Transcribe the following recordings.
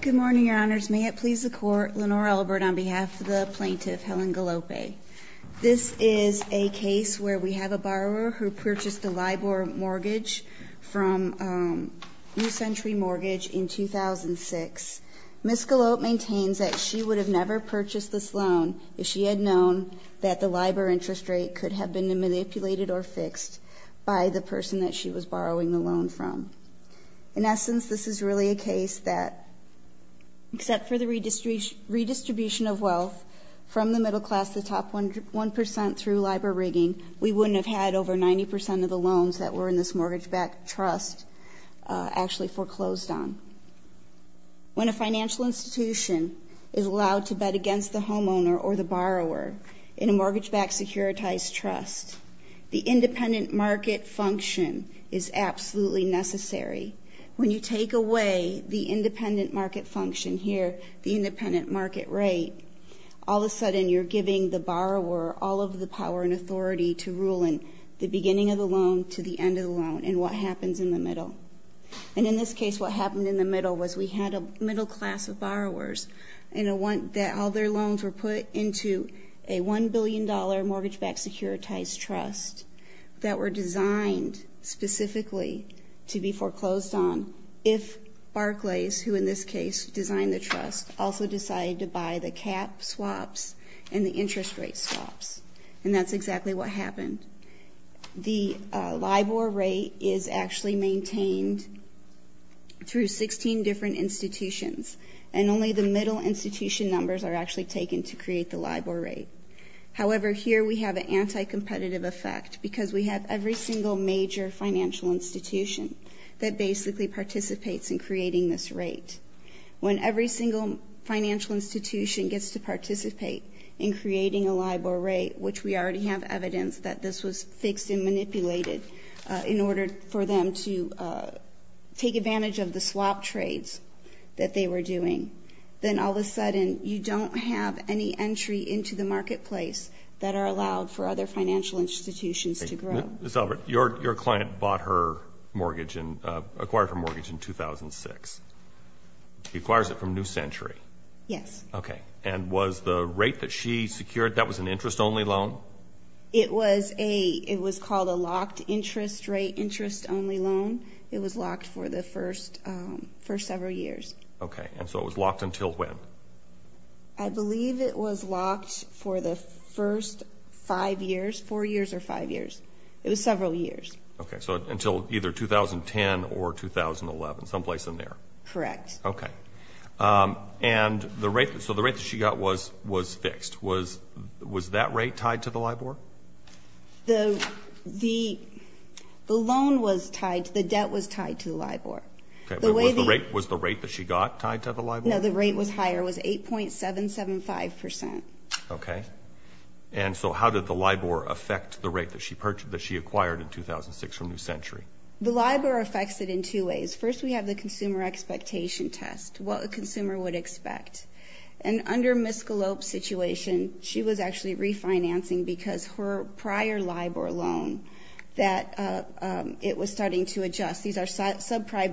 Good morning, Your Honors. May it please the Court, Lenore Elbert on behalf of the plaintiff Helen Galope. This is a case where we have a borrower who purchased a LIBOR mortgage from New Century Mortgage in 2006. Ms. Galope maintains that she would have never purchased this loan if she had known that the LIBOR interest rate could have been manipulated or fixed by the person that she was borrowing the loan from. In essence, this is really a case that, except for the redistribution of wealth from the middle class to the top 1% through LIBOR rigging, we wouldn't have had over 90% of the loans that were in this mortgage-backed trust actually foreclosed on. When a financial institution is allowed to bet against the homeowner or the borrower in a mortgage-backed securitized trust, the independent market function is absolutely necessary. When you take away the independent market function here, the independent market rate, all of a sudden you're giving the borrower all of the power and authority to rule in the beginning of the loan to the end of the loan and what happens in the middle. And in this case, what happened in the middle was we had a middle class of borrowers that all their loans were put into a $1 billion mortgage-backed securitized trust that were designed specifically to be foreclosed on if Barclays, who in this case designed the trust, also decided to buy the cap swaps and the interest rate swaps. And that's exactly what happened. The LIBOR rate is actually maintained through 16 different institutions and only the middle institution numbers are actually taken to create the LIBOR rate. However, here we have an anti-competitive effect because we have every single major financial institution that basically participates in creating this rate. When every single financial institution gets to participate in creating a LIBOR rate, which we already have evidence that this was fixed and manipulated in order for them to take advantage of the swap trades that they were doing, then all of a sudden you don't have any entry into the marketplace that are allowed for other financial institutions to grow. Ms. Elbert, your client bought her mortgage and acquired her mortgage in 2006. She acquires it from New Century. Yes. Okay. And was the rate that she secured, that was an interest-only loan? It was called a locked interest rate, interest-only loan. It was locked for the first several years. Okay. And so it was locked until when? I believe it was locked for the first five years, four years or five years. It was several years. Okay. So until either 2010 or 2011, someplace in there. Correct. Okay. And so the rate that she got was fixed. Was that rate tied to the LIBOR? The loan was tied, the debt was tied to the LIBOR. Okay. Was the rate that she got tied to the LIBOR? No, the rate was higher. It was 8.775%. Okay. And so how did the LIBOR affect the rate that she acquired in 2006 from New Century? The LIBOR affects it in two ways. First, we have the consumer expectation test, what a consumer would expect. And under Ms. Galop's situation, she was actually refinancing because her prior LIBOR loan, that it was starting to adjust. These are subprime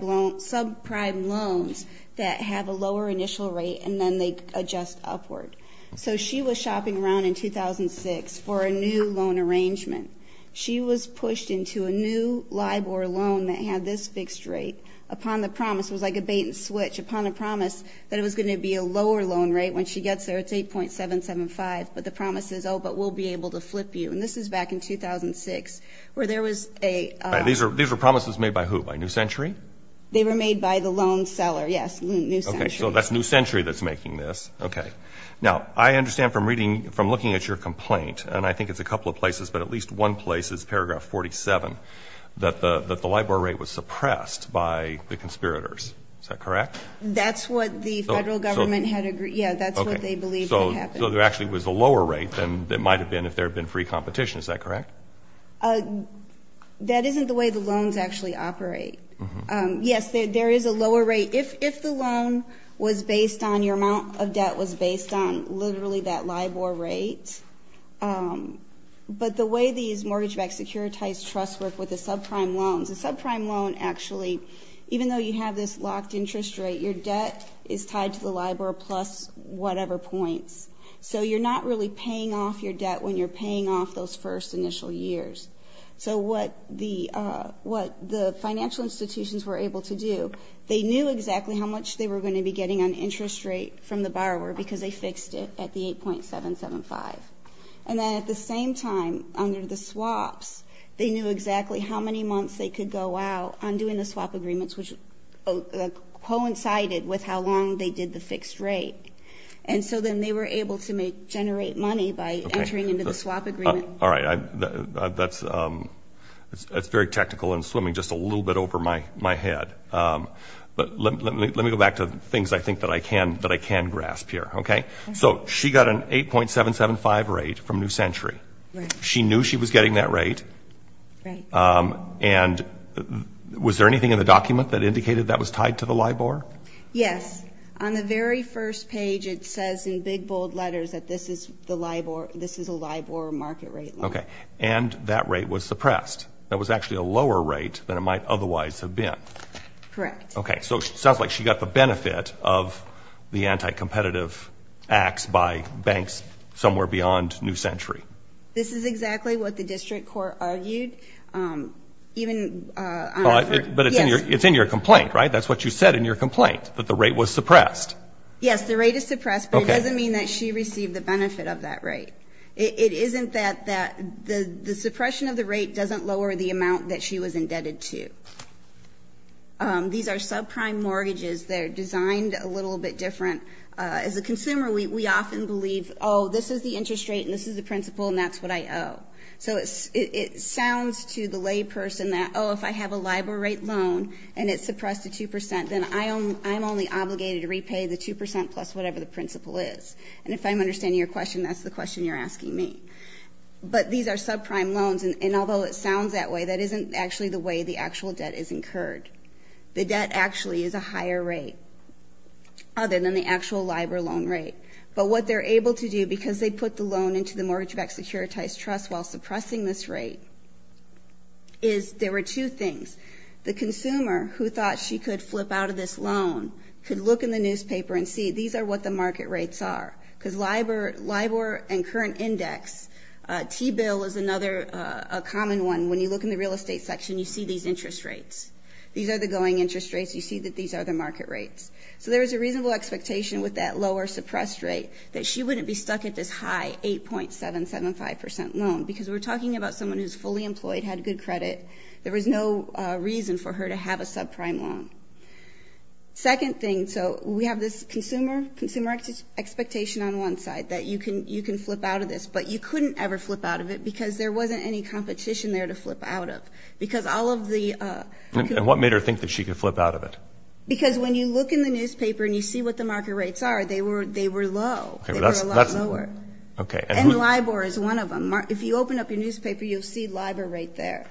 loans that have a lower initial rate, and then they adjust upward. So she was shopping around in 2006 for a new loan arrangement. She was pushed into a new LIBOR loan that had this fixed rate upon the promise, was like a bait-and-switch upon a promise that it was going to be a lower loan rate when she gets there. It's 8.775%, but the promise is, oh, but we'll be able to flip you. And this is back in 2006 where there was a ---- All right. These were promises made by who? By New Century? They were made by the loan seller, yes, New Century. Okay. So that's New Century that's making this. Okay. Now, I understand from reading, from looking at your complaint, and I think it's a couple of places, but at least one place is paragraph 47, that the LIBOR rate was suppressed by the conspirators. Is that correct? That's what the Federal Government had agreed. Yes, that's what they believed had happened. Okay. So there actually was a lower rate than there might have been if there had been free competition. Is that correct? That isn't the way the loans actually operate. Yes, there is a lower rate. If the loan was based on, your amount of debt was based on literally that LIBOR rate, but the way these mortgage-backed securitized trusts work with the subprime loans, the subprime loan actually, even though you have this locked interest rate, your debt is tied to the LIBOR plus whatever points. So you're not really paying off your debt when you're paying off those first initial years. So what the financial institutions were able to do, they knew exactly how much they were going to be getting on interest rate from the borrower because they fixed it at the 8.775. And then at the same time, under the swaps, they knew exactly how many months they could go out on doing the swap agreements, which coincided with how long they did the fixed rate. And so then they were able to generate money by entering into the swap agreement. All right. That's very technical and swimming just a little bit over my head. But let me go back to things I think that I can grasp here. Okay? So she got an 8.775 rate from New Century. She knew she was getting that rate. And was there anything in the document that indicated that was tied to the LIBOR? Yes. On the very first page, it says in big, bold letters that this is a LIBOR market rate loan. Okay. And that rate was suppressed. That was actually a lower rate than it might otherwise have been. Correct. Okay. So it sounds like she got the benefit of the anti-competitive acts by banks somewhere beyond New Century. This is exactly what the district court argued. But it's in your complaint, right? That's what you said in your complaint, that the rate was suppressed. Yes, the rate is suppressed, but it doesn't mean that she received the benefit of that rate. It isn't that the suppression of the rate doesn't lower the amount that she was indebted to. These are subprime mortgages. They're designed a little bit different. As a consumer, we often believe, oh, this is the interest rate and this is the principal and that's what I owe. So it sounds to the layperson that, oh, if I have a LIBOR rate loan and it's suppressed to 2 percent, then I'm only obligated to repay the 2 percent plus whatever the principal is. And if I'm understanding your question, that's the question you're asking me. But these are subprime loans. And although it sounds that way, that isn't actually the way the actual debt is incurred. The debt actually is a higher rate other than the actual LIBOR loan rate. But what they're able to do, because they put the loan into the mortgage-backed securitized trust while suppressing this rate, is there were two things. The consumer who thought she could flip out of this loan could look in the newspaper and see these are what the market rates are. Because LIBOR and current index, T-bill is another common one. When you look in the real estate section, you see these interest rates. These are the going interest rates. You see that these are the market rates. So there is a reasonable expectation with that lower suppressed rate that she wouldn't be stuck at this high 8.775 percent loan, because we're talking about someone who's fully employed, had good credit. There was no reason for her to have a subprime loan. Second thing, so we have this consumer expectation on one side that you can flip out of this, but you couldn't ever flip out of it because there wasn't any competition there to flip out of. Because all of the ---- And what made her think that she could flip out of it? Because when you look in the newspaper and you see what the market rates are, they were low. They were a lot lower. And LIBOR is one of them. If you open up your newspaper, you'll see LIBOR right there.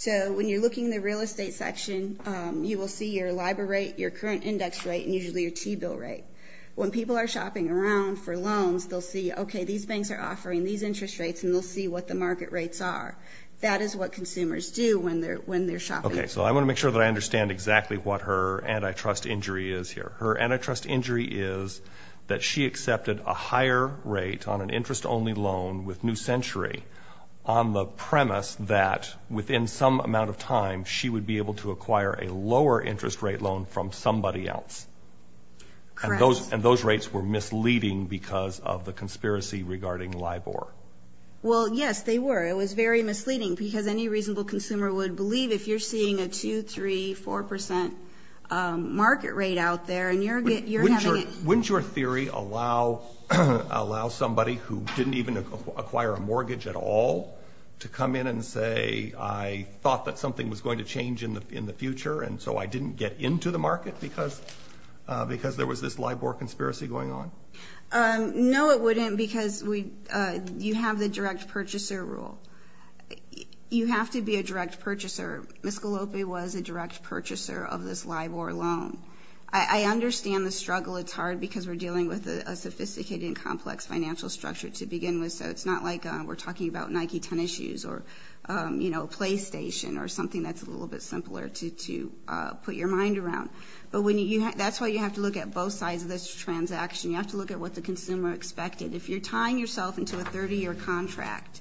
So when you're looking in the real estate section, you will see your LIBOR rate, your current index rate, and usually your T-bill rate. When people are shopping around for loans, they'll see, okay, these banks are offering these interest rates, and they'll see what the market rates are. That is what consumers do when they're shopping. Okay, so I want to make sure that I understand exactly what her antitrust injury is here. Her antitrust injury is that she accepted a higher rate on an interest-only loan with New Century on the premise that within some amount of time she would be able to acquire a lower interest rate loan from somebody else. Correct. And those rates were misleading because of the conspiracy regarding LIBOR. Well, yes, they were. It was very misleading because any reasonable consumer would believe if you're seeing a 2%, 3%, 4% market rate out there, and you're having it ---- Wouldn't your theory allow somebody who didn't even acquire a mortgage at all to come in and say, I thought that something was going to change in the future, and so I didn't get into the market because there was this LIBOR conspiracy going on? No, it wouldn't because you have the direct purchaser rule. You have to be a direct purchaser. Ms. Gallopi was a direct purchaser of this LIBOR loan. I understand the struggle. It's hard because we're dealing with a sophisticated and complex financial structure to begin with, so it's not like we're talking about Nike tennis shoes or, you know, PlayStation or something that's a little bit simpler to put your mind around. But that's why you have to look at both sides of this transaction. You have to look at what the consumer expected. If you're tying yourself into a 30-year contract,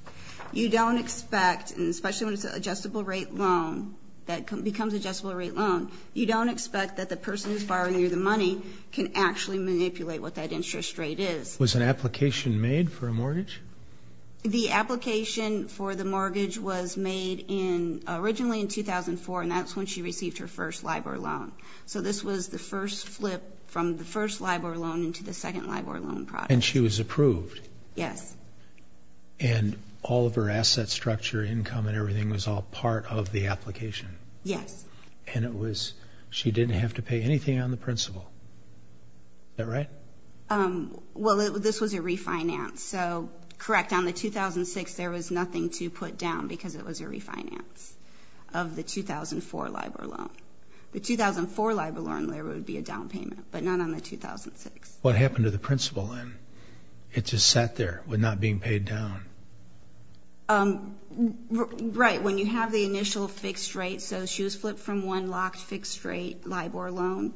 you don't expect, and especially when it's an adjustable rate loan that becomes an adjustable rate loan, you don't expect that the person who's borrowing you the money can actually manipulate what that interest rate is. Was an application made for a mortgage? The application for the mortgage was made originally in 2004, and that's when she received her first LIBOR loan. So this was the first flip from the first LIBOR loan into the second LIBOR loan product. And she was approved? Yes. And all of her asset structure, income, and everything was all part of the application? Yes. And it was she didn't have to pay anything on the principal. Is that right? Well, this was a refinance, so correct. On the 2006, there was nothing to put down because it was a refinance of the 2004 LIBOR loan. The 2004 LIBOR loan, there would be a down payment, but not on the 2006. What happened to the principal then? It just sat there with not being paid down. Right. When you have the initial fixed rate, so she was flipped from one locked fixed rate LIBOR loan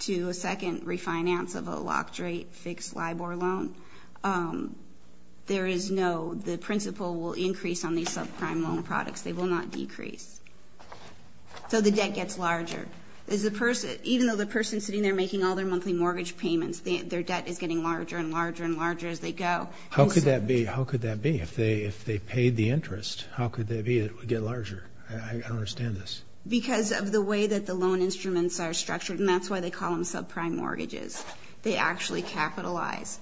to a second refinance of a locked rate fixed LIBOR loan, there is no, the principal will increase on these subprime loan products. They will not decrease. So the debt gets larger. Even though the person sitting there making all their monthly mortgage payments, their debt is getting larger and larger and larger as they go. How could that be? How could that be? If they paid the interest, how could that be? It would get larger. I don't understand this. Because of the way that the loan instruments are structured, and that's why they call them subprime mortgages. They actually capitalize.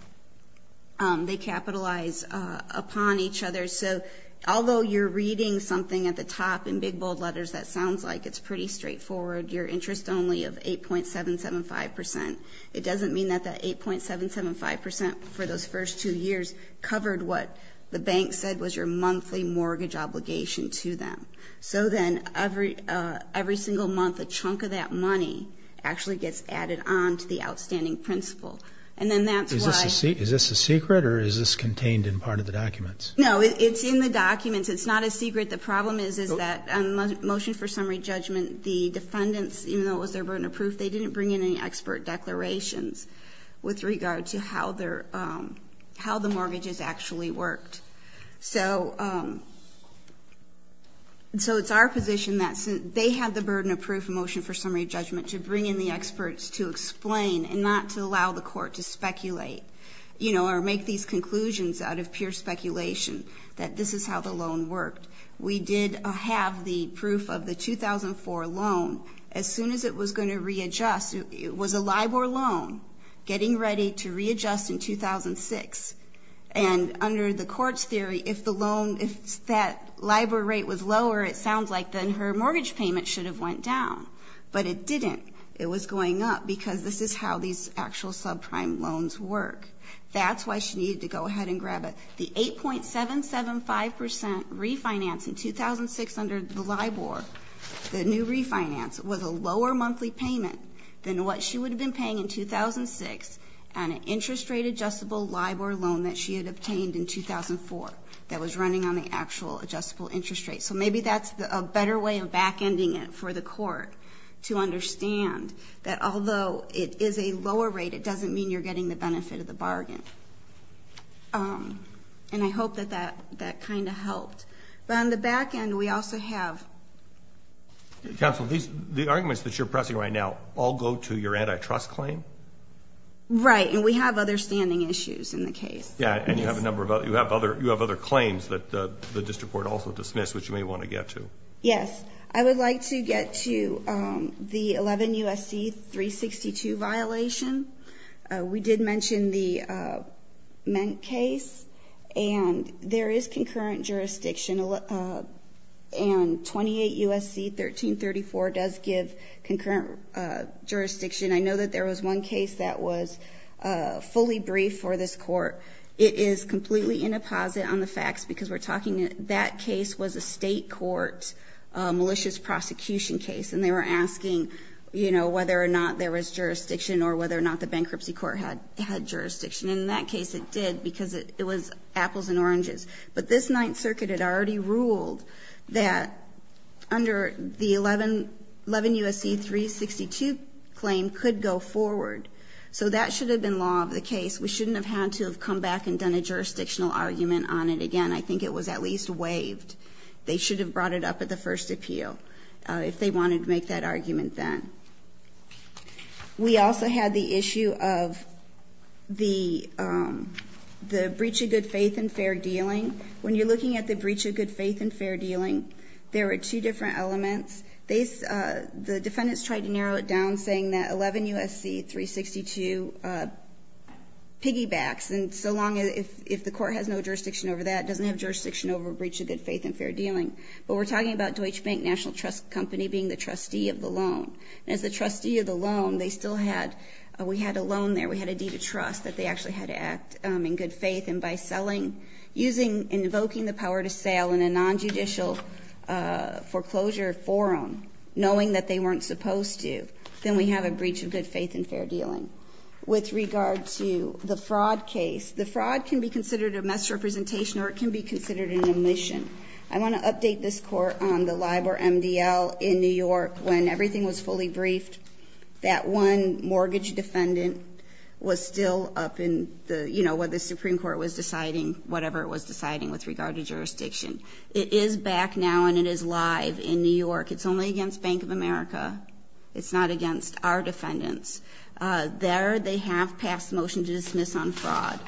They capitalize upon each other. So although you're reading something at the top in big, bold letters that sounds like it's pretty straightforward, your interest only of 8.775 percent, it doesn't mean that the 8.775 percent for those first two years covered what the bank said was your monthly mortgage obligation to them. So then every single month a chunk of that money actually gets added on to the outstanding principal. And then that's why ---- Is this a secret or is this contained in part of the documents? No. It's in the documents. It's not a secret. The problem is, is that on the motion for summary judgment, the defendants, even though it was their burden of proof, they didn't bring in any expert declarations with regard to how the mortgages actually worked. So it's our position that they have the burden of proof in motion for summary judgment to bring in the experts to explain and not to allow the court to speculate or make these conclusions out of pure speculation that this is how the loan worked. We did have the proof of the 2004 loan. As soon as it was going to readjust, it was a LIBOR loan getting ready to readjust in 2006. And under the court's theory, if the loan, if that LIBOR rate was lower, it sounds like then her mortgage payment should have went down. But it didn't. It was going up because this is how these actual subprime loans work. That's why she needed to go ahead and grab it. The 8.775% refinance in 2006 under the LIBOR, the new refinance, was a lower monthly payment than what she would have been paying in 2006 on an interest rate adjustable LIBOR loan that she had obtained in 2004 that was running on the actual adjustable interest rate. So maybe that's a better way of back-ending it for the court to understand that although it is a lower rate, it doesn't mean you're getting the benefit of the bargain. And I hope that that kind of helped. But on the back end, we also have... Counsel, the arguments that you're pressing right now all go to your antitrust claim? Right, and we have other standing issues in the case. Yeah, and you have other claims that the district court also dismissed, which you may want to get to. Yes. I would like to get to the 11 U.S.C. 362 violation. We did mention the Ment case, and there is concurrent jurisdiction, and 28 U.S.C. 1334 does give concurrent jurisdiction. I know that there was one case that was fully briefed for this court. It is completely in a posit on the facts because we're talking... That case was a State court malicious prosecution case, and they were asking, you know, whether or not there was jurisdiction or whether or not the bankruptcy court had jurisdiction. And in that case, it did because it was apples and oranges. But this Ninth Circuit had already ruled that under the 11 U.S.C. 362 claim could go forward. So that should have been law of the case. We shouldn't have had to have come back and done a jurisdictional argument on it again. I think it was at least waived. They should have brought it up at the first appeal if they wanted to make that argument then. We also had the issue of the breach of good faith in fair dealing. When you're looking at the breach of good faith in fair dealing, there are two different elements. The defendants tried to narrow it down, saying that 11 U.S.C. 362 piggybacks. And so long as the court has no jurisdiction over that, doesn't have jurisdiction over a breach of good faith in fair dealing. But we're talking about Deutsche Bank National Trust Company being the trustee of the loan. And as the trustee of the loan, they still had... We had a loan there. We had a deed of trust that they actually had to act in good faith. And by selling, using, invoking the power to sell in a nonjudicial foreclosure forum, knowing that they weren't supposed to, then we have a breach of good faith in fair dealing. With regard to the fraud case, the fraud can be considered a misrepresentation or it can be considered an omission. I want to update this court on the LIBOR MDL in New York. When everything was fully briefed, that one mortgage defendant was still up in what the Supreme Court was deciding, whatever it was deciding with regard to jurisdiction. It is back now and it is live in New York. It's only against Bank of America. It's not against our defendants. There they have passed a motion to dismiss on fraud.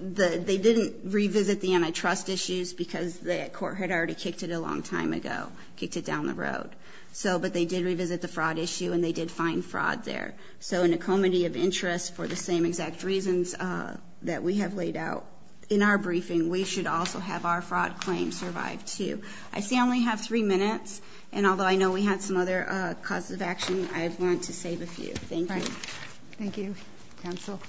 They didn't revisit the antitrust issues because the court had already kicked it a long time ago, kicked it down the road. But they did revisit the fraud issue and they did find fraud there. So in a comity of interest for the same exact reasons that we have laid out in our briefing, we should also have our fraud claims survive too. I see I only have three minutes. And although I know we have some other causes of action, I want to save a few. Thank you. Thank you. Counsel.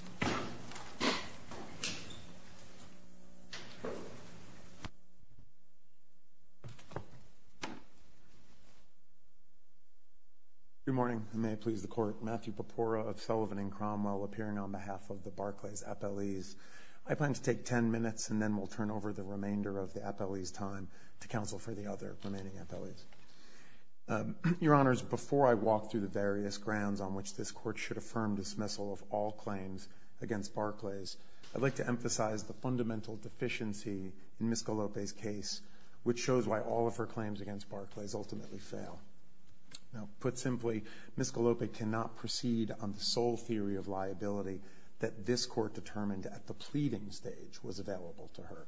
Good morning, and may I please the court. Matthew Papora of Sullivan and Cromwell appearing on behalf of the Barclays FLEs. I plan to take 10 minutes and then we'll turn over the remainder of the FLEs' time to counsel for the other remaining FLEs. Your Honors, before I walk through the various grounds on which this court should affirm dismissal of all claims against Barclays, I'd like to emphasize the fundamental deficiency in Ms. Galopi's case, which shows why all of her claims against Barclays ultimately fail. Now, put simply, Ms. Galopi cannot proceed on the sole theory of liability that this court determined at the pleading stage was available to her.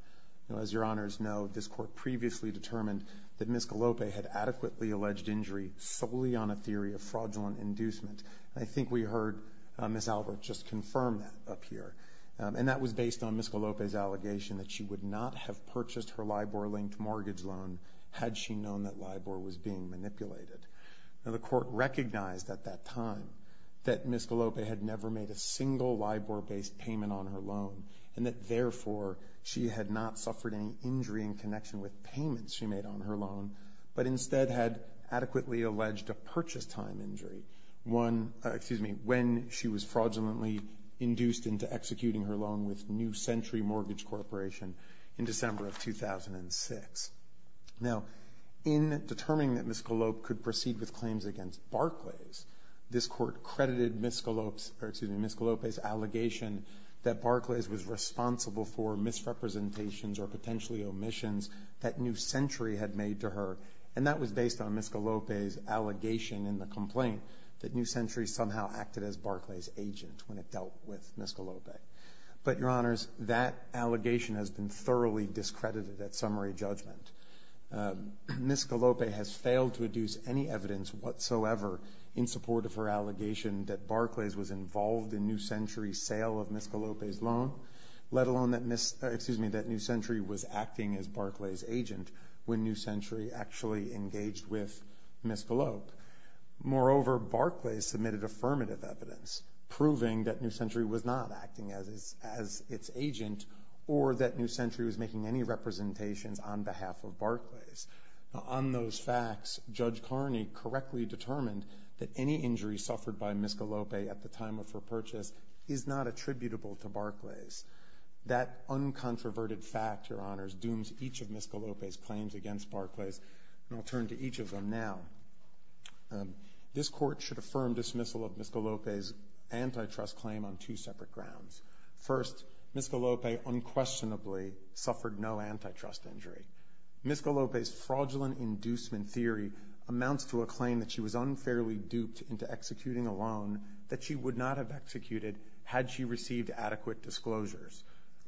As your Honors know, this court previously determined that Ms. Galopi had adequately alleged injury solely on a theory of fraudulent inducement. And I think we heard Ms. Albert just confirm that up here. And that was based on Ms. Galopi's allegation that she would not have purchased her LIBOR-linked mortgage loan had she known that LIBOR was being manipulated. Now, the court recognized at that time that Ms. Galopi had never made a single LIBOR-based payment on her loan. And that, therefore, she had not suffered any injury in connection with payments she made on her loan, but instead had adequately alleged a purchase time injury when she was fraudulently induced into executing her loan with New Century Mortgage Corporation in December of 2006. Now, in determining that Ms. Galopi could proceed with claims against Barclays, this court credited Ms. Galopi's allegation that Barclays was responsible for misrepresentations or potentially omissions that New Century had made to her. And that was based on Ms. Galopi's allegation in the complaint that New Century somehow acted as Barclays' agent when it dealt with Ms. Galopi. But, Your Honors, that allegation has been thoroughly discredited at summary judgment. Ms. Galopi has failed to adduce any evidence whatsoever in support of her allegation that Barclays was involved in New Century's sale of Ms. Galopi's loan, let alone that New Century was acting as Barclays' agent when New Century actually engaged with Ms. Galopi. Moreover, Barclays submitted affirmative evidence proving that New Century was not acting as its agent or that New Century was making any representations on behalf of Barclays. On those facts, Judge Carney correctly determined that any injury suffered by Ms. Galopi at the time of her purchase is not attributable to Barclays. That uncontroverted fact, Your Honors, dooms each of Ms. Galopi's claims against Barclays, and I'll turn to each of them now. This court should affirm dismissal of Ms. Galopi's antitrust claim on two separate grounds. First, Ms. Galopi unquestionably suffered no antitrust injury. Ms. Galopi's fraudulent inducement theory amounts to a claim that she was unfairly duped into executing a loan that she would not have executed had she received adequate disclosures.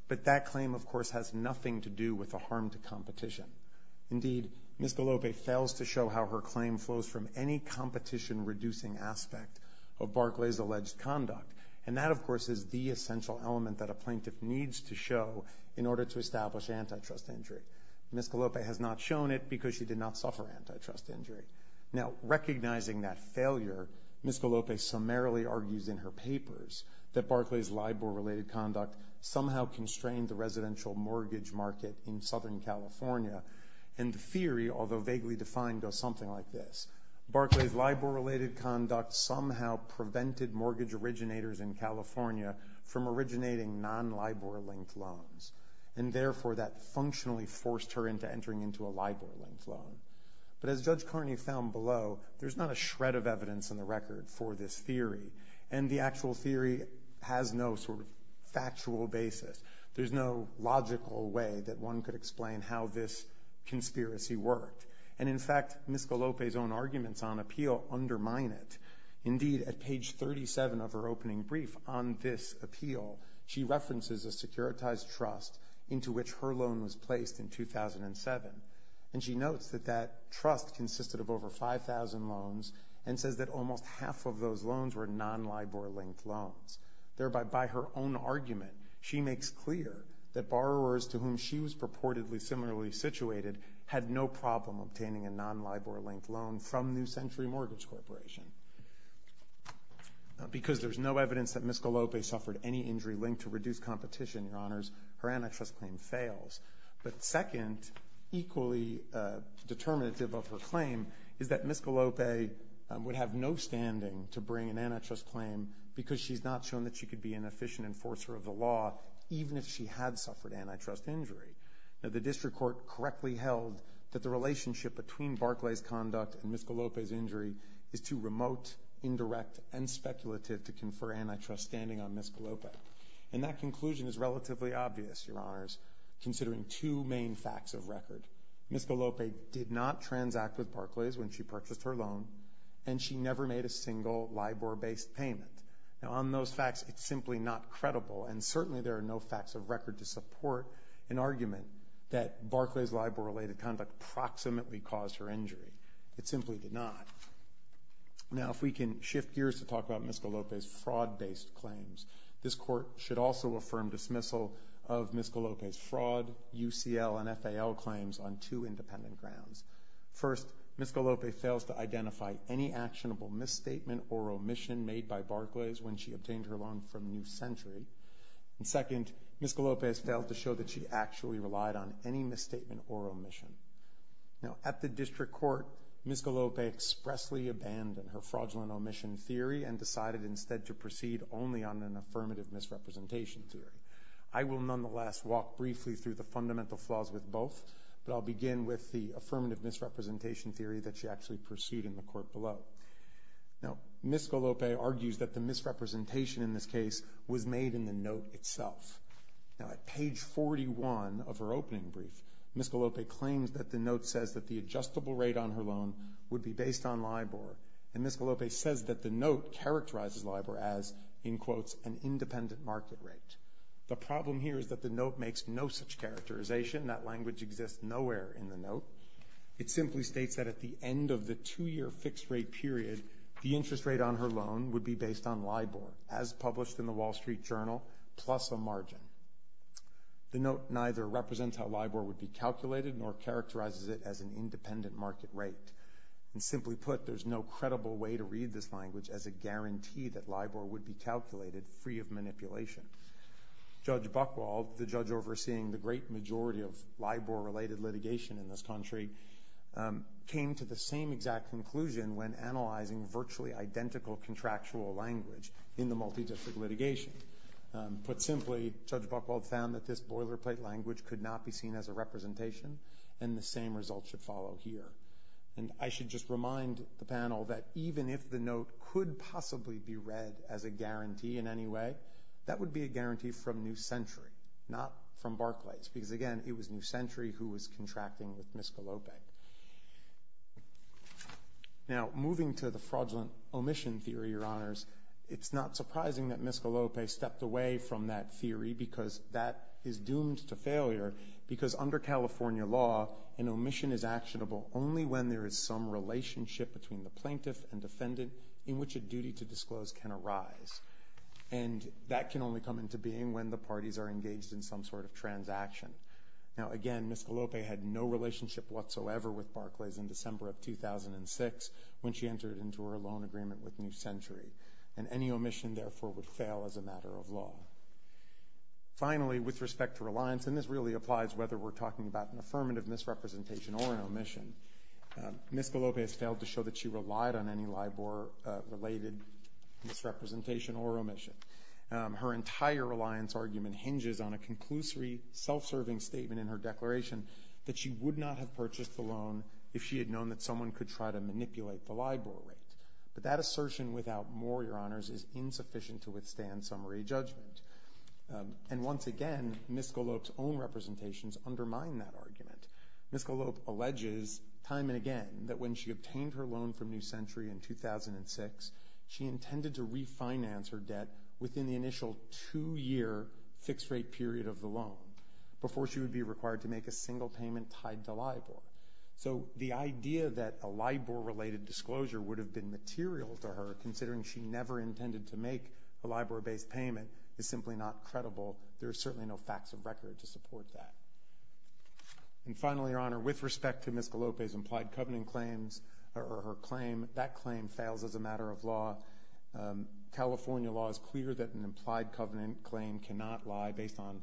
But that claim, of course, has nothing to do with the harm to competition. Indeed, Ms. Galopi fails to show how her claim flows from any competition reducing aspect of Barclays' alleged conduct. And that, of course, is the essential element that a plaintiff needs to show in order to establish antitrust injury. Ms. Galopi has not shown it because she did not suffer antitrust injury. Now, recognizing that failure, Ms. Galopi summarily argues in her papers that Barclays' LIBOR-related conduct somehow constrained the residential mortgage market in Southern California. And the theory, although vaguely defined, goes something like this. Barclays' LIBOR-related conduct somehow prevented mortgage originators in California from originating non-LIBOR-linked loans. And therefore, that functionally forced her into entering into a LIBOR-linked loan. But as Judge Carney found below, there's not a shred of evidence in the record for this theory. And the actual theory has no sort of factual basis. There's no logical way that one could explain how this conspiracy worked. And, in fact, Ms. Galopi's own arguments on appeal undermine it. Indeed, at page 37 of her opening brief on this appeal, she references a securitized trust into which her loan was placed in 2007. And she notes that that trust consisted of over 5,000 loans and says that almost half of those loans were non-LIBOR-linked loans. Thereby, by her own argument, she makes clear that borrowers to whom she was reportedly similarly situated had no problem obtaining a non-LIBOR-linked loan from New Century Mortgage Corporation. Because there's no evidence that Ms. Galopi suffered any injury linked to reduced competition, Your Honors, her antitrust claim fails. But second, equally determinative of her claim, is that Ms. Galopi would have no standing to bring an antitrust claim because she's not shown that she could be an efficient enforcer of the law, even if she had suffered antitrust injury. Now, the district court correctly held that the relationship between Barclays' conduct and Ms. Galopi's injury is too remote, indirect, and speculative to confer antitrust standing on Ms. Galopi. And that conclusion is relatively obvious, Your Honors, considering two main facts of record. Ms. Galopi did not transact with Barclays when she purchased her loan, and she never made a single LIBOR-based payment. Now, on those facts, it's simply not credible, and certainly there are no facts of record to support an argument that Barclays' LIBOR-related conduct proximately caused her injury. It simply did not. Now, if we can shift gears to talk about Ms. Galopi's fraud-based claims, this court should also affirm dismissal of Ms. Galopi's fraud, UCL, and FAL claims on two independent grounds. First, Ms. Galopi fails to identify any actionable misstatement or omission made by Barclays when she obtained her loan from New Century. And second, Ms. Galopi has failed to show that she actually relied on any misstatement or omission. Now, at the district court, Ms. Galopi expressly abandoned her fraudulent omission theory and decided instead to proceed only on an affirmative misrepresentation theory. I will nonetheless walk briefly through the fundamental flaws with both, but I'll begin with the affirmative misrepresentation theory that she actually pursued in the court below. Now, Ms. Galopi argues that the misrepresentation in this case was made in the note itself. Now, at page 41 of her opening brief, Ms. Galopi claims that the note says that the adjustable rate on her loan would be based on LIBOR. And Ms. Galopi says that the note characterizes LIBOR as, in quotes, an independent market rate. The problem here is that the note makes no such characterization. That language exists nowhere in the note. It simply states that at the end of the two-year fixed rate period, the interest rate on her loan would be based on LIBOR, as published in the Wall Street Journal, plus a margin. The note neither represents how LIBOR would be calculated nor characterizes it as an independent market rate. And simply put, there's no credible way to read this language as a guarantee that LIBOR would be calculated free of manipulation. Judge Buchwald, the judge overseeing the great majority of LIBOR-related litigation in this country, came to the same exact conclusion when analyzing virtually identical contractual language in the multidistrict litigation. Put simply, Judge Buchwald found that this boilerplate language could not be seen as a representation, and the same result should follow here. And I should just remind the panel that even if the note could possibly be read as a guarantee in any way, that would be a guarantee from New Century, not from Barclays, because, again, it was New Century who was contracting with Miscalope. Now, moving to the fraudulent omission theory, Your Honors, it's not surprising that Miscalope stepped away from that theory because that is doomed to failure because under California law, an omission is actionable only when there is some relationship between the plaintiff and defendant in which a duty to disclose can arise. And that can only come into being when the parties are engaged in some sort of transaction. Now, again, Miscalope had no relationship whatsoever with Barclays in December of 2006 when she entered into her loan agreement with New Century, and any omission, therefore, would fail as a matter of law. Finally, with respect to reliance, and this really applies whether we're talking about an affirmative misrepresentation or an omission, Miscalope has failed to Her entire reliance argument hinges on a conclusory, self-serving statement in her declaration that she would not have purchased the loan if she had known that someone could try to manipulate the LIBOR rate. But that assertion, without more, Your Honors, is insufficient to withstand summary judgment. And once again, Miscalope's own representations undermine that argument. Miscalope alleges time and again that when she obtained her loan from New Century in 2006, she intended to refinance her debt within the initial two-year fixed-rate period of the loan before she would be required to make a single payment tied to LIBOR. So the idea that a LIBOR-related disclosure would have been material to her, considering she never intended to make a LIBOR-based payment, is simply not credible. There are certainly no facts of record to support that. And finally, Your Honor, with respect to Miscalope's implied covenant claims or her claim, that claim fails as a matter of law. California law is clear that an implied covenant claim cannot lie based on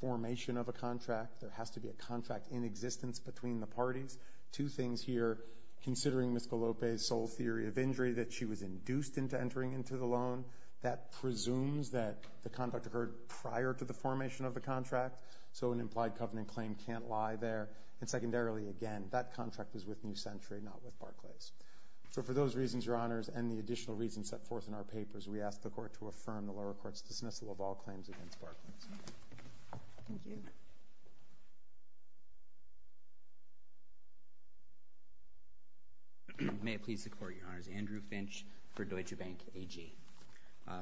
formation of a contract. There has to be a contract in existence between the parties. Two things here, considering Miscalope's sole theory of injury that she was induced into entering into the loan, that presumes that the conduct occurred prior to the formation of the contract. So an implied covenant claim can't lie there. And secondarily, again, that contract was with New Century, not with Barclays. So for those reasons, Your Honors, and the additional reasons set forth in our papers, we ask the Court to affirm the lower court's dismissal of all claims against Barclays. Thank you. May it please the Court, Your Honors. Andrew Finch for Deutsche Bank AG. Your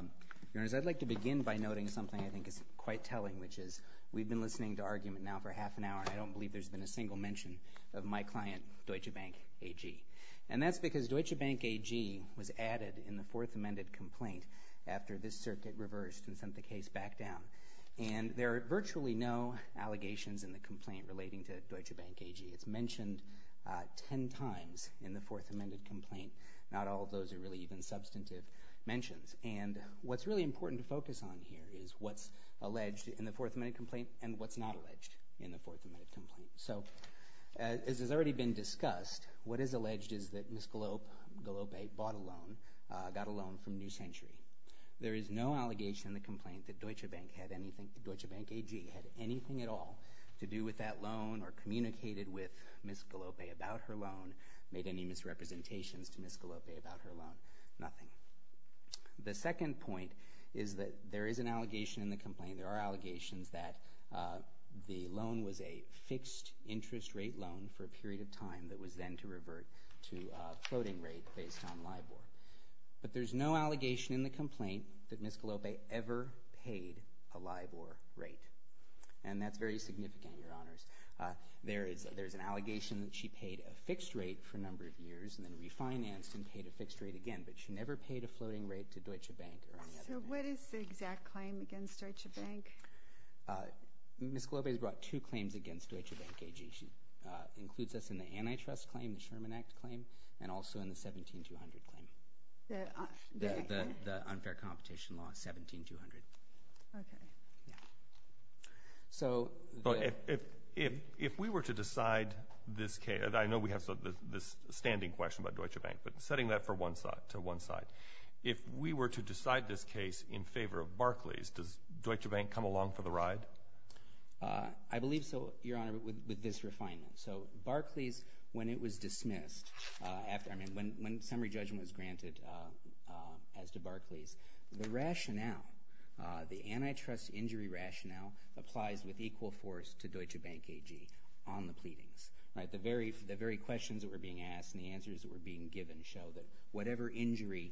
Honors, I'd like to begin by noting something I think is quite telling, and I believe there's been a single mention of my client, Deutsche Bank AG. And that's because Deutsche Bank AG was added in the Fourth Amendment complaint after this circuit reversed and sent the case back down. And there are virtually no allegations in the complaint relating to Deutsche Bank AG. It's mentioned ten times in the Fourth Amendment complaint. Not all of those are really even substantive mentions. And what's really important to focus on here is what's alleged in the Fourth Amendment complaint. So as has already been discussed, what is alleged is that Ms. Galope bought a loan, got a loan from New Century. There is no allegation in the complaint that Deutsche Bank AG had anything at all to do with that loan or communicated with Ms. Galope about her loan, made any misrepresentations to Ms. Galope about her loan, nothing. The second point is that there is an allegation in the complaint, there are interest rate loan for a period of time that was then to revert to a floating rate based on LIBOR. But there's no allegation in the complaint that Ms. Galope ever paid a LIBOR rate. And that's very significant, Your Honors. There is an allegation that she paid a fixed rate for a number of years and then refinanced and paid a fixed rate again, but she never paid a floating rate to Deutsche Bank or any other bank. So what is the exact claim against Deutsche Bank? Ms. Galope has brought two claims against Deutsche Bank AG. She includes us in the antitrust claim, the Sherman Act claim, and also in the 17-200 claim, the unfair competition law, 17-200. Okay. Yeah. If we were to decide this case, and I know we have this standing question about Deutsche Bank, but setting that to one side, if we were to decide this case in 17-200, would Ms. Galope come along for the ride? I believe so, Your Honor, with this refinement. So Barclays, when it was dismissed, when summary judgment was granted as to Barclays, the rationale, the antitrust injury rationale applies with equal force to Deutsche Bank AG on the pleadings. The very questions that were being asked and the answers that were being given show that whatever injury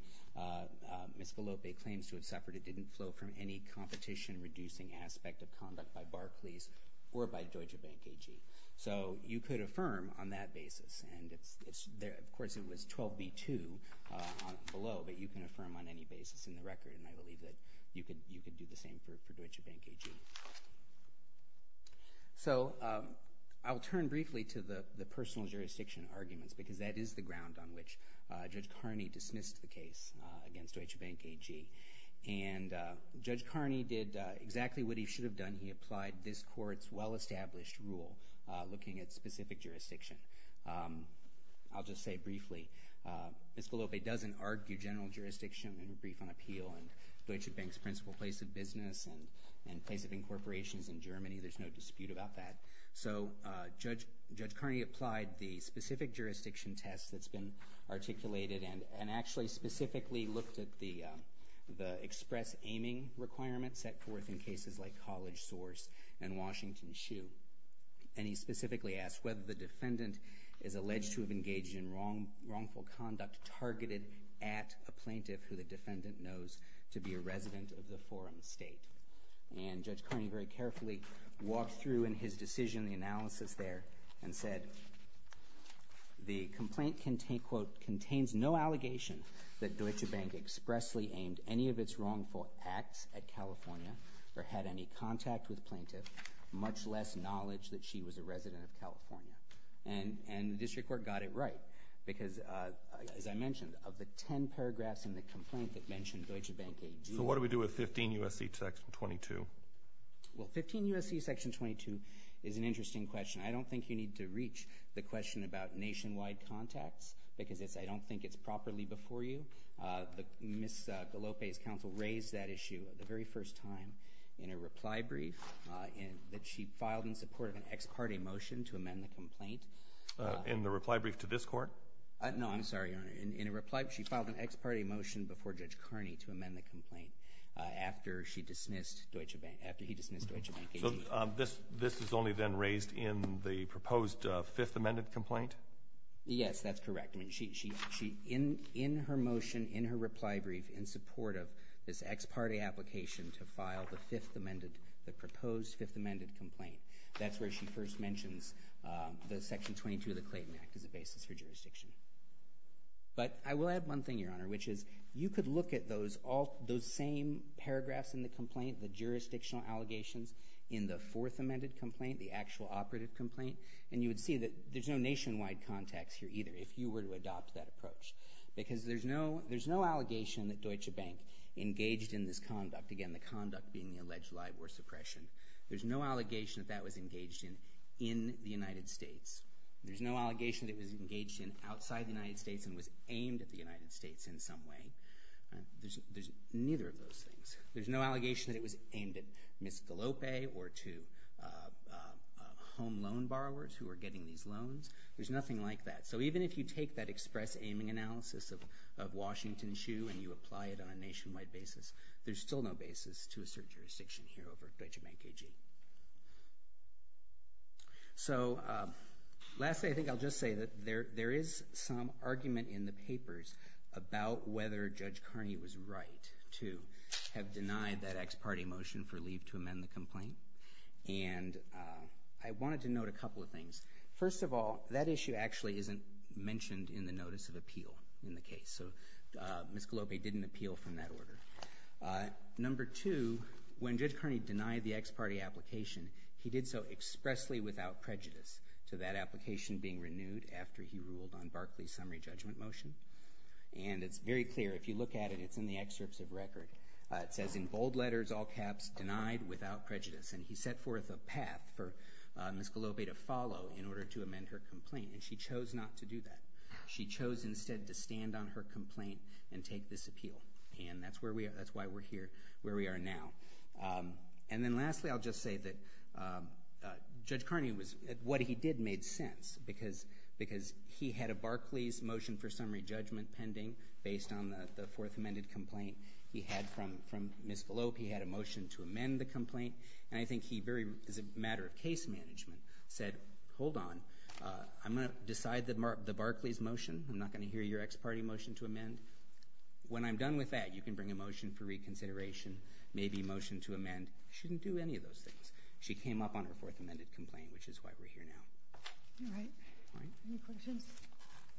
Ms. Galope claims to have suffered, it didn't flow from any competition-reducing aspect of conduct by Barclays or by Deutsche Bank AG. So you could affirm on that basis, and of course, it was 12B2 below, but you can affirm on any basis in the record, and I believe that you could do the same for Deutsche Bank AG. So I will turn briefly to the personal jurisdiction arguments because that is the ground on which Judge Carney dismissed the case against Deutsche Bank AG. And Judge Carney did exactly what he should have done. He applied this Court's well-established rule looking at specific jurisdiction. I'll just say briefly, Ms. Galope doesn't argue general jurisdiction in a brief on appeal and Deutsche Bank's principal place of business and place of incorporations in Germany. There's no dispute about that. So Judge Carney applied the specific jurisdiction test that's been articulated and actually specifically looked at the express aiming requirements set forth in cases like College Source and Washington Shoe. And he specifically asked whether the defendant is alleged to have engaged in wrongful conduct targeted at a plaintiff who the defendant knows to be a resident of the forum state. And Judge Carney very carefully walked through in his decision the analysis there and said the complaint, quote, contains no allegation that Deutsche Bank expressly aimed any of its wrongful acts at California or had any contact with the plaintiff, much less knowledge that she was a resident of California. And the district court got it right because, as I mentioned, of the 10 paragraphs in the complaint that mentioned Deutsche Bank AG. So what do we do with 15 U.S.C. section 22? Well, 15 U.S.C. section 22 is an interesting question. I don't think you need to reach the question about nationwide contacts because I don't think it's properly before you. Ms. Gallope's counsel raised that issue the very first time in a reply brief that she filed in support of an ex parte motion to amend the complaint. In the reply brief to this court? No, I'm sorry, Your Honor. In a reply, she filed an ex parte motion before Judge Carney to amend the So this is only then raised in the proposed Fifth Amendment complaint? Yes, that's correct. In her motion, in her reply brief, in support of this ex parte application to file the Fifth Amendment, the proposed Fifth Amendment complaint, that's where she first mentions the section 22 of the Clayton Act as a basis for jurisdiction. But I will add one thing, Your Honor, which is you could look at those same paragraphs in the complaint, the jurisdictional allegations in the Fourth Amendment complaint, the actual operative complaint, and you would see that there's no nationwide contacts here either if you were to adopt that approach because there's no allegation that Deutsche Bank engaged in this conduct, again, the conduct being the alleged live war suppression. There's no allegation that that was engaged in in the United States. There's no allegation that it was engaged in outside the United States and was aimed at the United States in some way. There's neither of those things. There's no allegation that it was aimed at Ms. DeLope or to home loan borrowers who were getting these loans. There's nothing like that. So even if you take that express aiming analysis of Washington Shoe and you apply it on a nationwide basis, there's still no basis to assert jurisdiction here over Deutsche Bank AG. So lastly, I think I'll just say that there is some argument in the papers about whether Judge Kearney was right to have denied that ex parte motion for leave to amend the complaint. And I wanted to note a couple of things. First of all, that issue actually isn't mentioned in the notice of appeal in the case. So Ms. DeLope didn't appeal from that order. Number two, when Judge Kearney denied the ex parte application, he did so expressly without prejudice to that application being renewed after he ruled on Barclay's summary judgment motion. And it's very clear. If you look at it, it's in the excerpts of record. It says in bold letters, all caps, denied without prejudice. And he set forth a path for Ms. DeLope to follow in order to amend her complaint, and she chose not to do that. She chose instead to stand on her complaint and take this appeal. And that's why we're here where we are now. And then lastly, I'll just say that Judge Kearney was at what he did made sense because he had a Barclay's motion for summary judgment pending based on the fourth amended complaint he had from Ms. DeLope. He had a motion to amend the complaint. And I think he very, as a matter of case management, said, hold on. I'm going to decide the Barclay's motion. I'm not going to hear your ex parte motion to amend. When I'm done with that, you can bring a motion for reconsideration, maybe a motion to amend. She didn't do any of those things. She came up on her fourth amended complaint, which is why we're here now. All right. Any questions?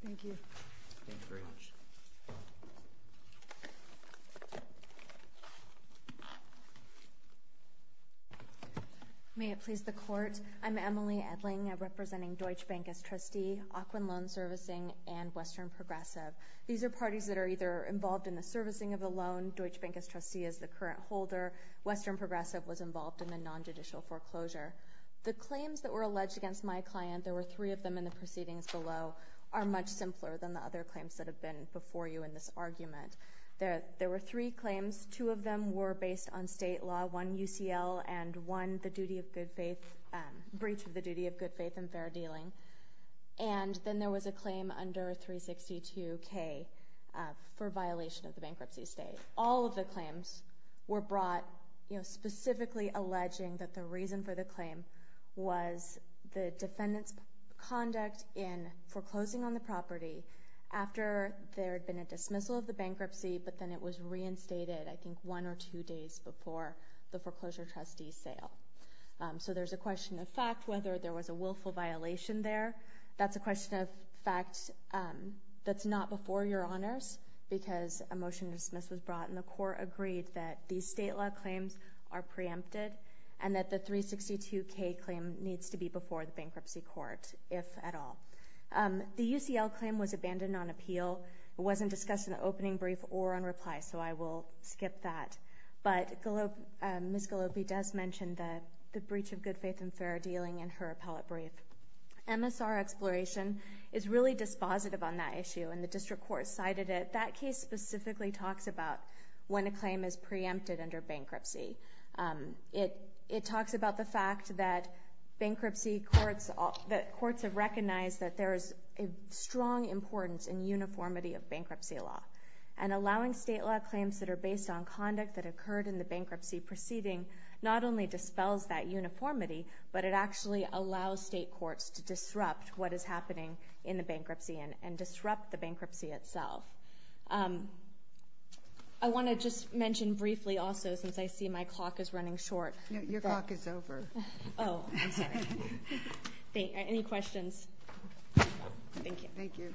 Thank you. Thank you very much. May it please the Court. I'm Emily Edling. I'm representing Deutsche Bank as trustee, Auckland Loan Servicing, and Western Progressive. These are parties that are either involved in the servicing of the loan, Deutsche Bank as trustee as the current holder, Western Progressive was involved in the nonjudicial foreclosure. The claims that were alleged against my client, there were three of them in the proceedings below, are much simpler than the other claims that have been before you in this argument. There were three claims. Two of them were based on state law, one UCL, and one the duty of good faith, breach of the duty of good faith and fair dealing. And then there was a claim under 362K for violation of the bankruptcy state. All of the claims were brought, you know, was the defendant's conduct in foreclosing on the property after there had been a dismissal of the bankruptcy, but then it was reinstated I think one or two days before the foreclosure trustee's sale. So there's a question of fact whether there was a willful violation there. That's a question of fact that's not before your honors because a motion to dismiss was brought, and the Court agreed that these state law claims are preempted and that the 362K claim needs to be before the bankruptcy court, if at all. The UCL claim was abandoned on appeal. It wasn't discussed in the opening brief or on reply, so I will skip that. But Ms. Gallopi does mention the breach of good faith and fair dealing in her appellate brief. MSR exploration is really dispositive on that issue, and the district court cited it. That case specifically talks about when a claim is preempted under bankruptcy. It talks about the fact that bankruptcy courts have recognized that there is a strong importance in uniformity of bankruptcy law, and allowing state law claims that are based on conduct that occurred in the bankruptcy proceeding not only dispels that uniformity, but it actually allows state courts to disrupt what is happening in the bankruptcy and disrupt the bankruptcy itself. I want to just mention briefly also, since I see my clock is running short. Your clock is over. Oh, I'm sorry. Any questions? Thank you. Thank you.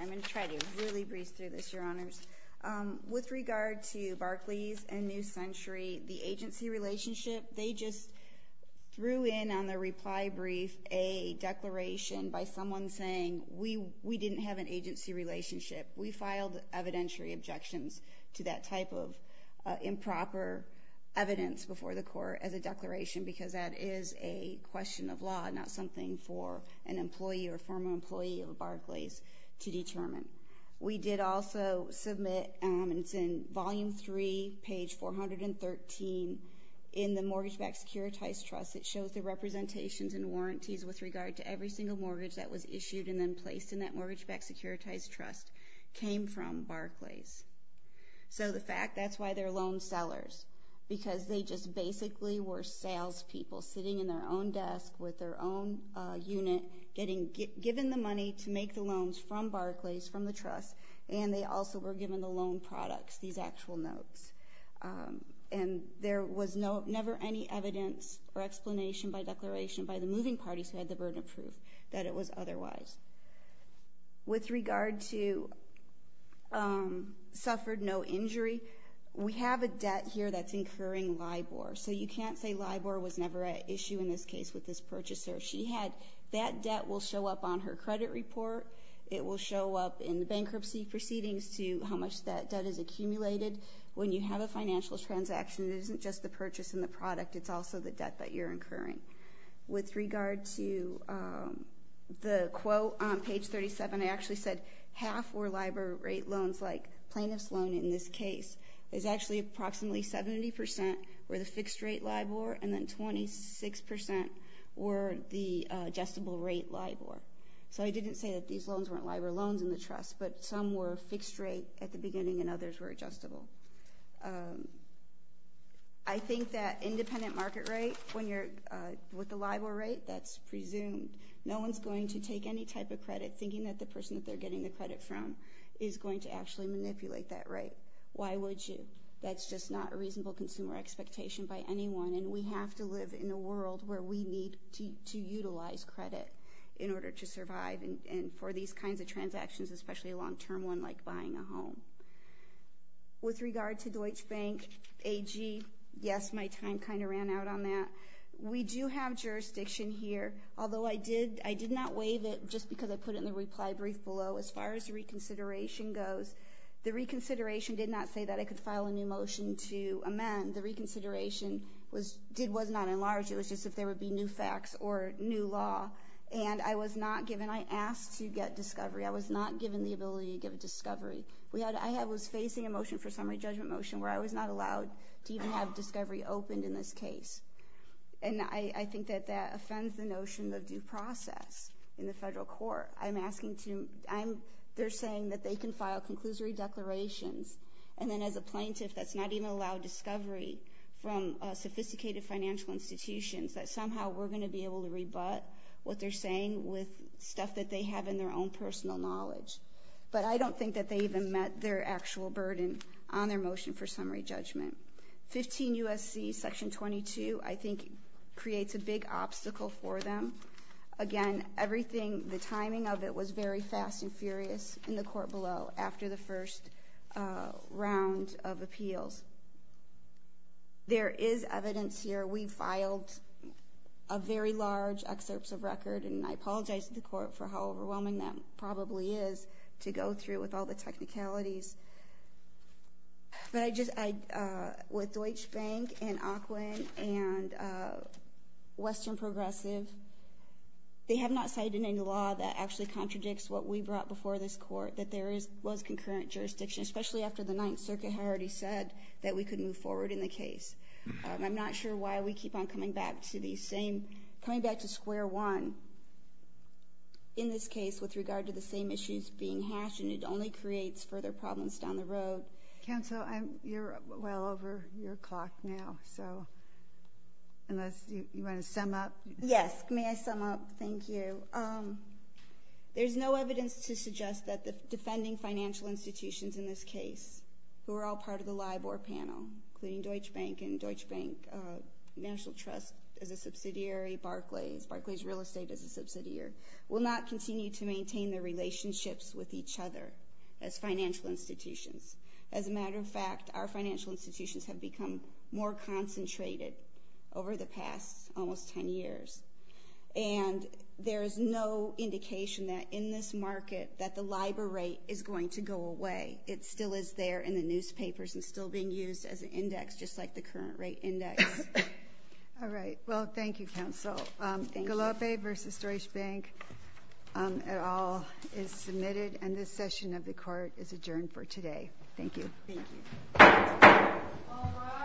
I'm going to try to really breeze through this, Your Honors. With regard to Barclays and New Century, the agency relationship, they just threw in on their reply brief a declaration by someone saying, we didn't have an agency relationship. We filed evidentiary objections to that type of improper evidence before the court as a declaration, because that is a question of law, not something for an employee or a former employee of Barclays to determine. We did also submit, and it's in Volume 3, page 413, in the Mortgage-Backed Securitized Trust. It shows the representations and warranties with regard to every single mortgage that was issued and then placed in that Mortgage-Backed Securitized Trust came from Barclays. So the fact that's why they're loan sellers, because they just basically were salespeople sitting in their own desk with their own unit, getting given the money to make the loans from Barclays, from the trust, and they also were given the loan products, these actual notes. And there was never any evidence or explanation by declaration by the moving parties who had the burden of proof that it was otherwise. With regard to suffered no injury, we have a debt here that's incurring LIBOR. So you can't say LIBOR was never an issue in this case with this purchaser. That debt will show up on her credit report. It will show up in the bankruptcy proceedings to how much that debt has accumulated. When you have a financial transaction, it isn't just the purchase and the product. It's also the debt that you're incurring. With regard to the quote on page 37, I actually said half were LIBOR rate loans, like plaintiff's loan in this case is actually approximately 70% were the fixed rate LIBOR, and then 26% were the adjustable rate LIBOR. So I didn't say that these loans weren't LIBOR loans in the trust, but some were fixed rate at the beginning and others were adjustable. I think that independent market rate when you're with the LIBOR rate, that's presumed. No one's going to take any type of credit thinking that the person that they're getting the credit from is going to actually manipulate that rate. Why would you? That's just not a reasonable consumer expectation by anyone, and we have to live in a world where we need to utilize credit in order to survive, and for these kinds of transactions, especially a long-term one like buying a home. With regard to Deutsche Bank AG, yes, my time kind of ran out on that. We do have jurisdiction here, although I did not waive it just because I put it in the reply brief below. As far as reconsideration goes, the reconsideration did not say that I could file a new motion to amend. The reconsideration was not enlarged. It was just if there would be new facts or new law, and I was not given. I asked to get discovery. I was not given the ability to give discovery. I was facing a motion for summary judgment motion where I was not allowed to even have discovery opened in this case, and I think that that offends the notion of due process in the federal court. They're saying that they can file conclusory declarations, and then as a plaintiff that's not even allowed discovery from sophisticated financial institutions, that somehow we're going to be able to rebut what they're saying with stuff that they have in their own personal knowledge. But I don't think that they even met their actual burden on their motion for summary judgment. 15 U.S.C. Section 22 I think creates a big obstacle for them. Again, everything, the timing of it was very fast and furious in the court below after the first round of appeals. There is evidence here. We filed very large excerpts of record, and I apologize to the court for how overwhelming that probably is to go through with all the technicalities. But with Deutsche Bank and AQUIN and Western Progressive, they have not cited any law that actually contradicts what we brought before this court, that there was concurrent jurisdiction, especially after the Ninth Circuit had already said that we could move forward in the case. I'm not sure why we keep on coming back to square one in this case with regard to the same issues being hashed, and it only creates further problems down the road. Counsel, you're well over your clock now, so unless you want to sum up. Yes, may I sum up? Thank you. There's no evidence to suggest that the defending financial institutions in this case, who are all part of the LIBOR panel, including Deutsche Bank and Deutsche Bank National Trust as a subsidiary, Barclays, Barclays Real Estate as a subsidiary, will not continue to maintain their relationships with each other as financial institutions. As a matter of fact, our financial institutions have become more concentrated over the past almost 10 years, and there is no indication that in this market that the LIBOR rate is going to go away. It still is there in the newspapers and still being used as an index, just like the current rate index. All right. Well, thank you, Counsel. Galope v. Deutsche Bank et al. is submitted, and this session of the court is adjourned for today. Thank you. Thank you.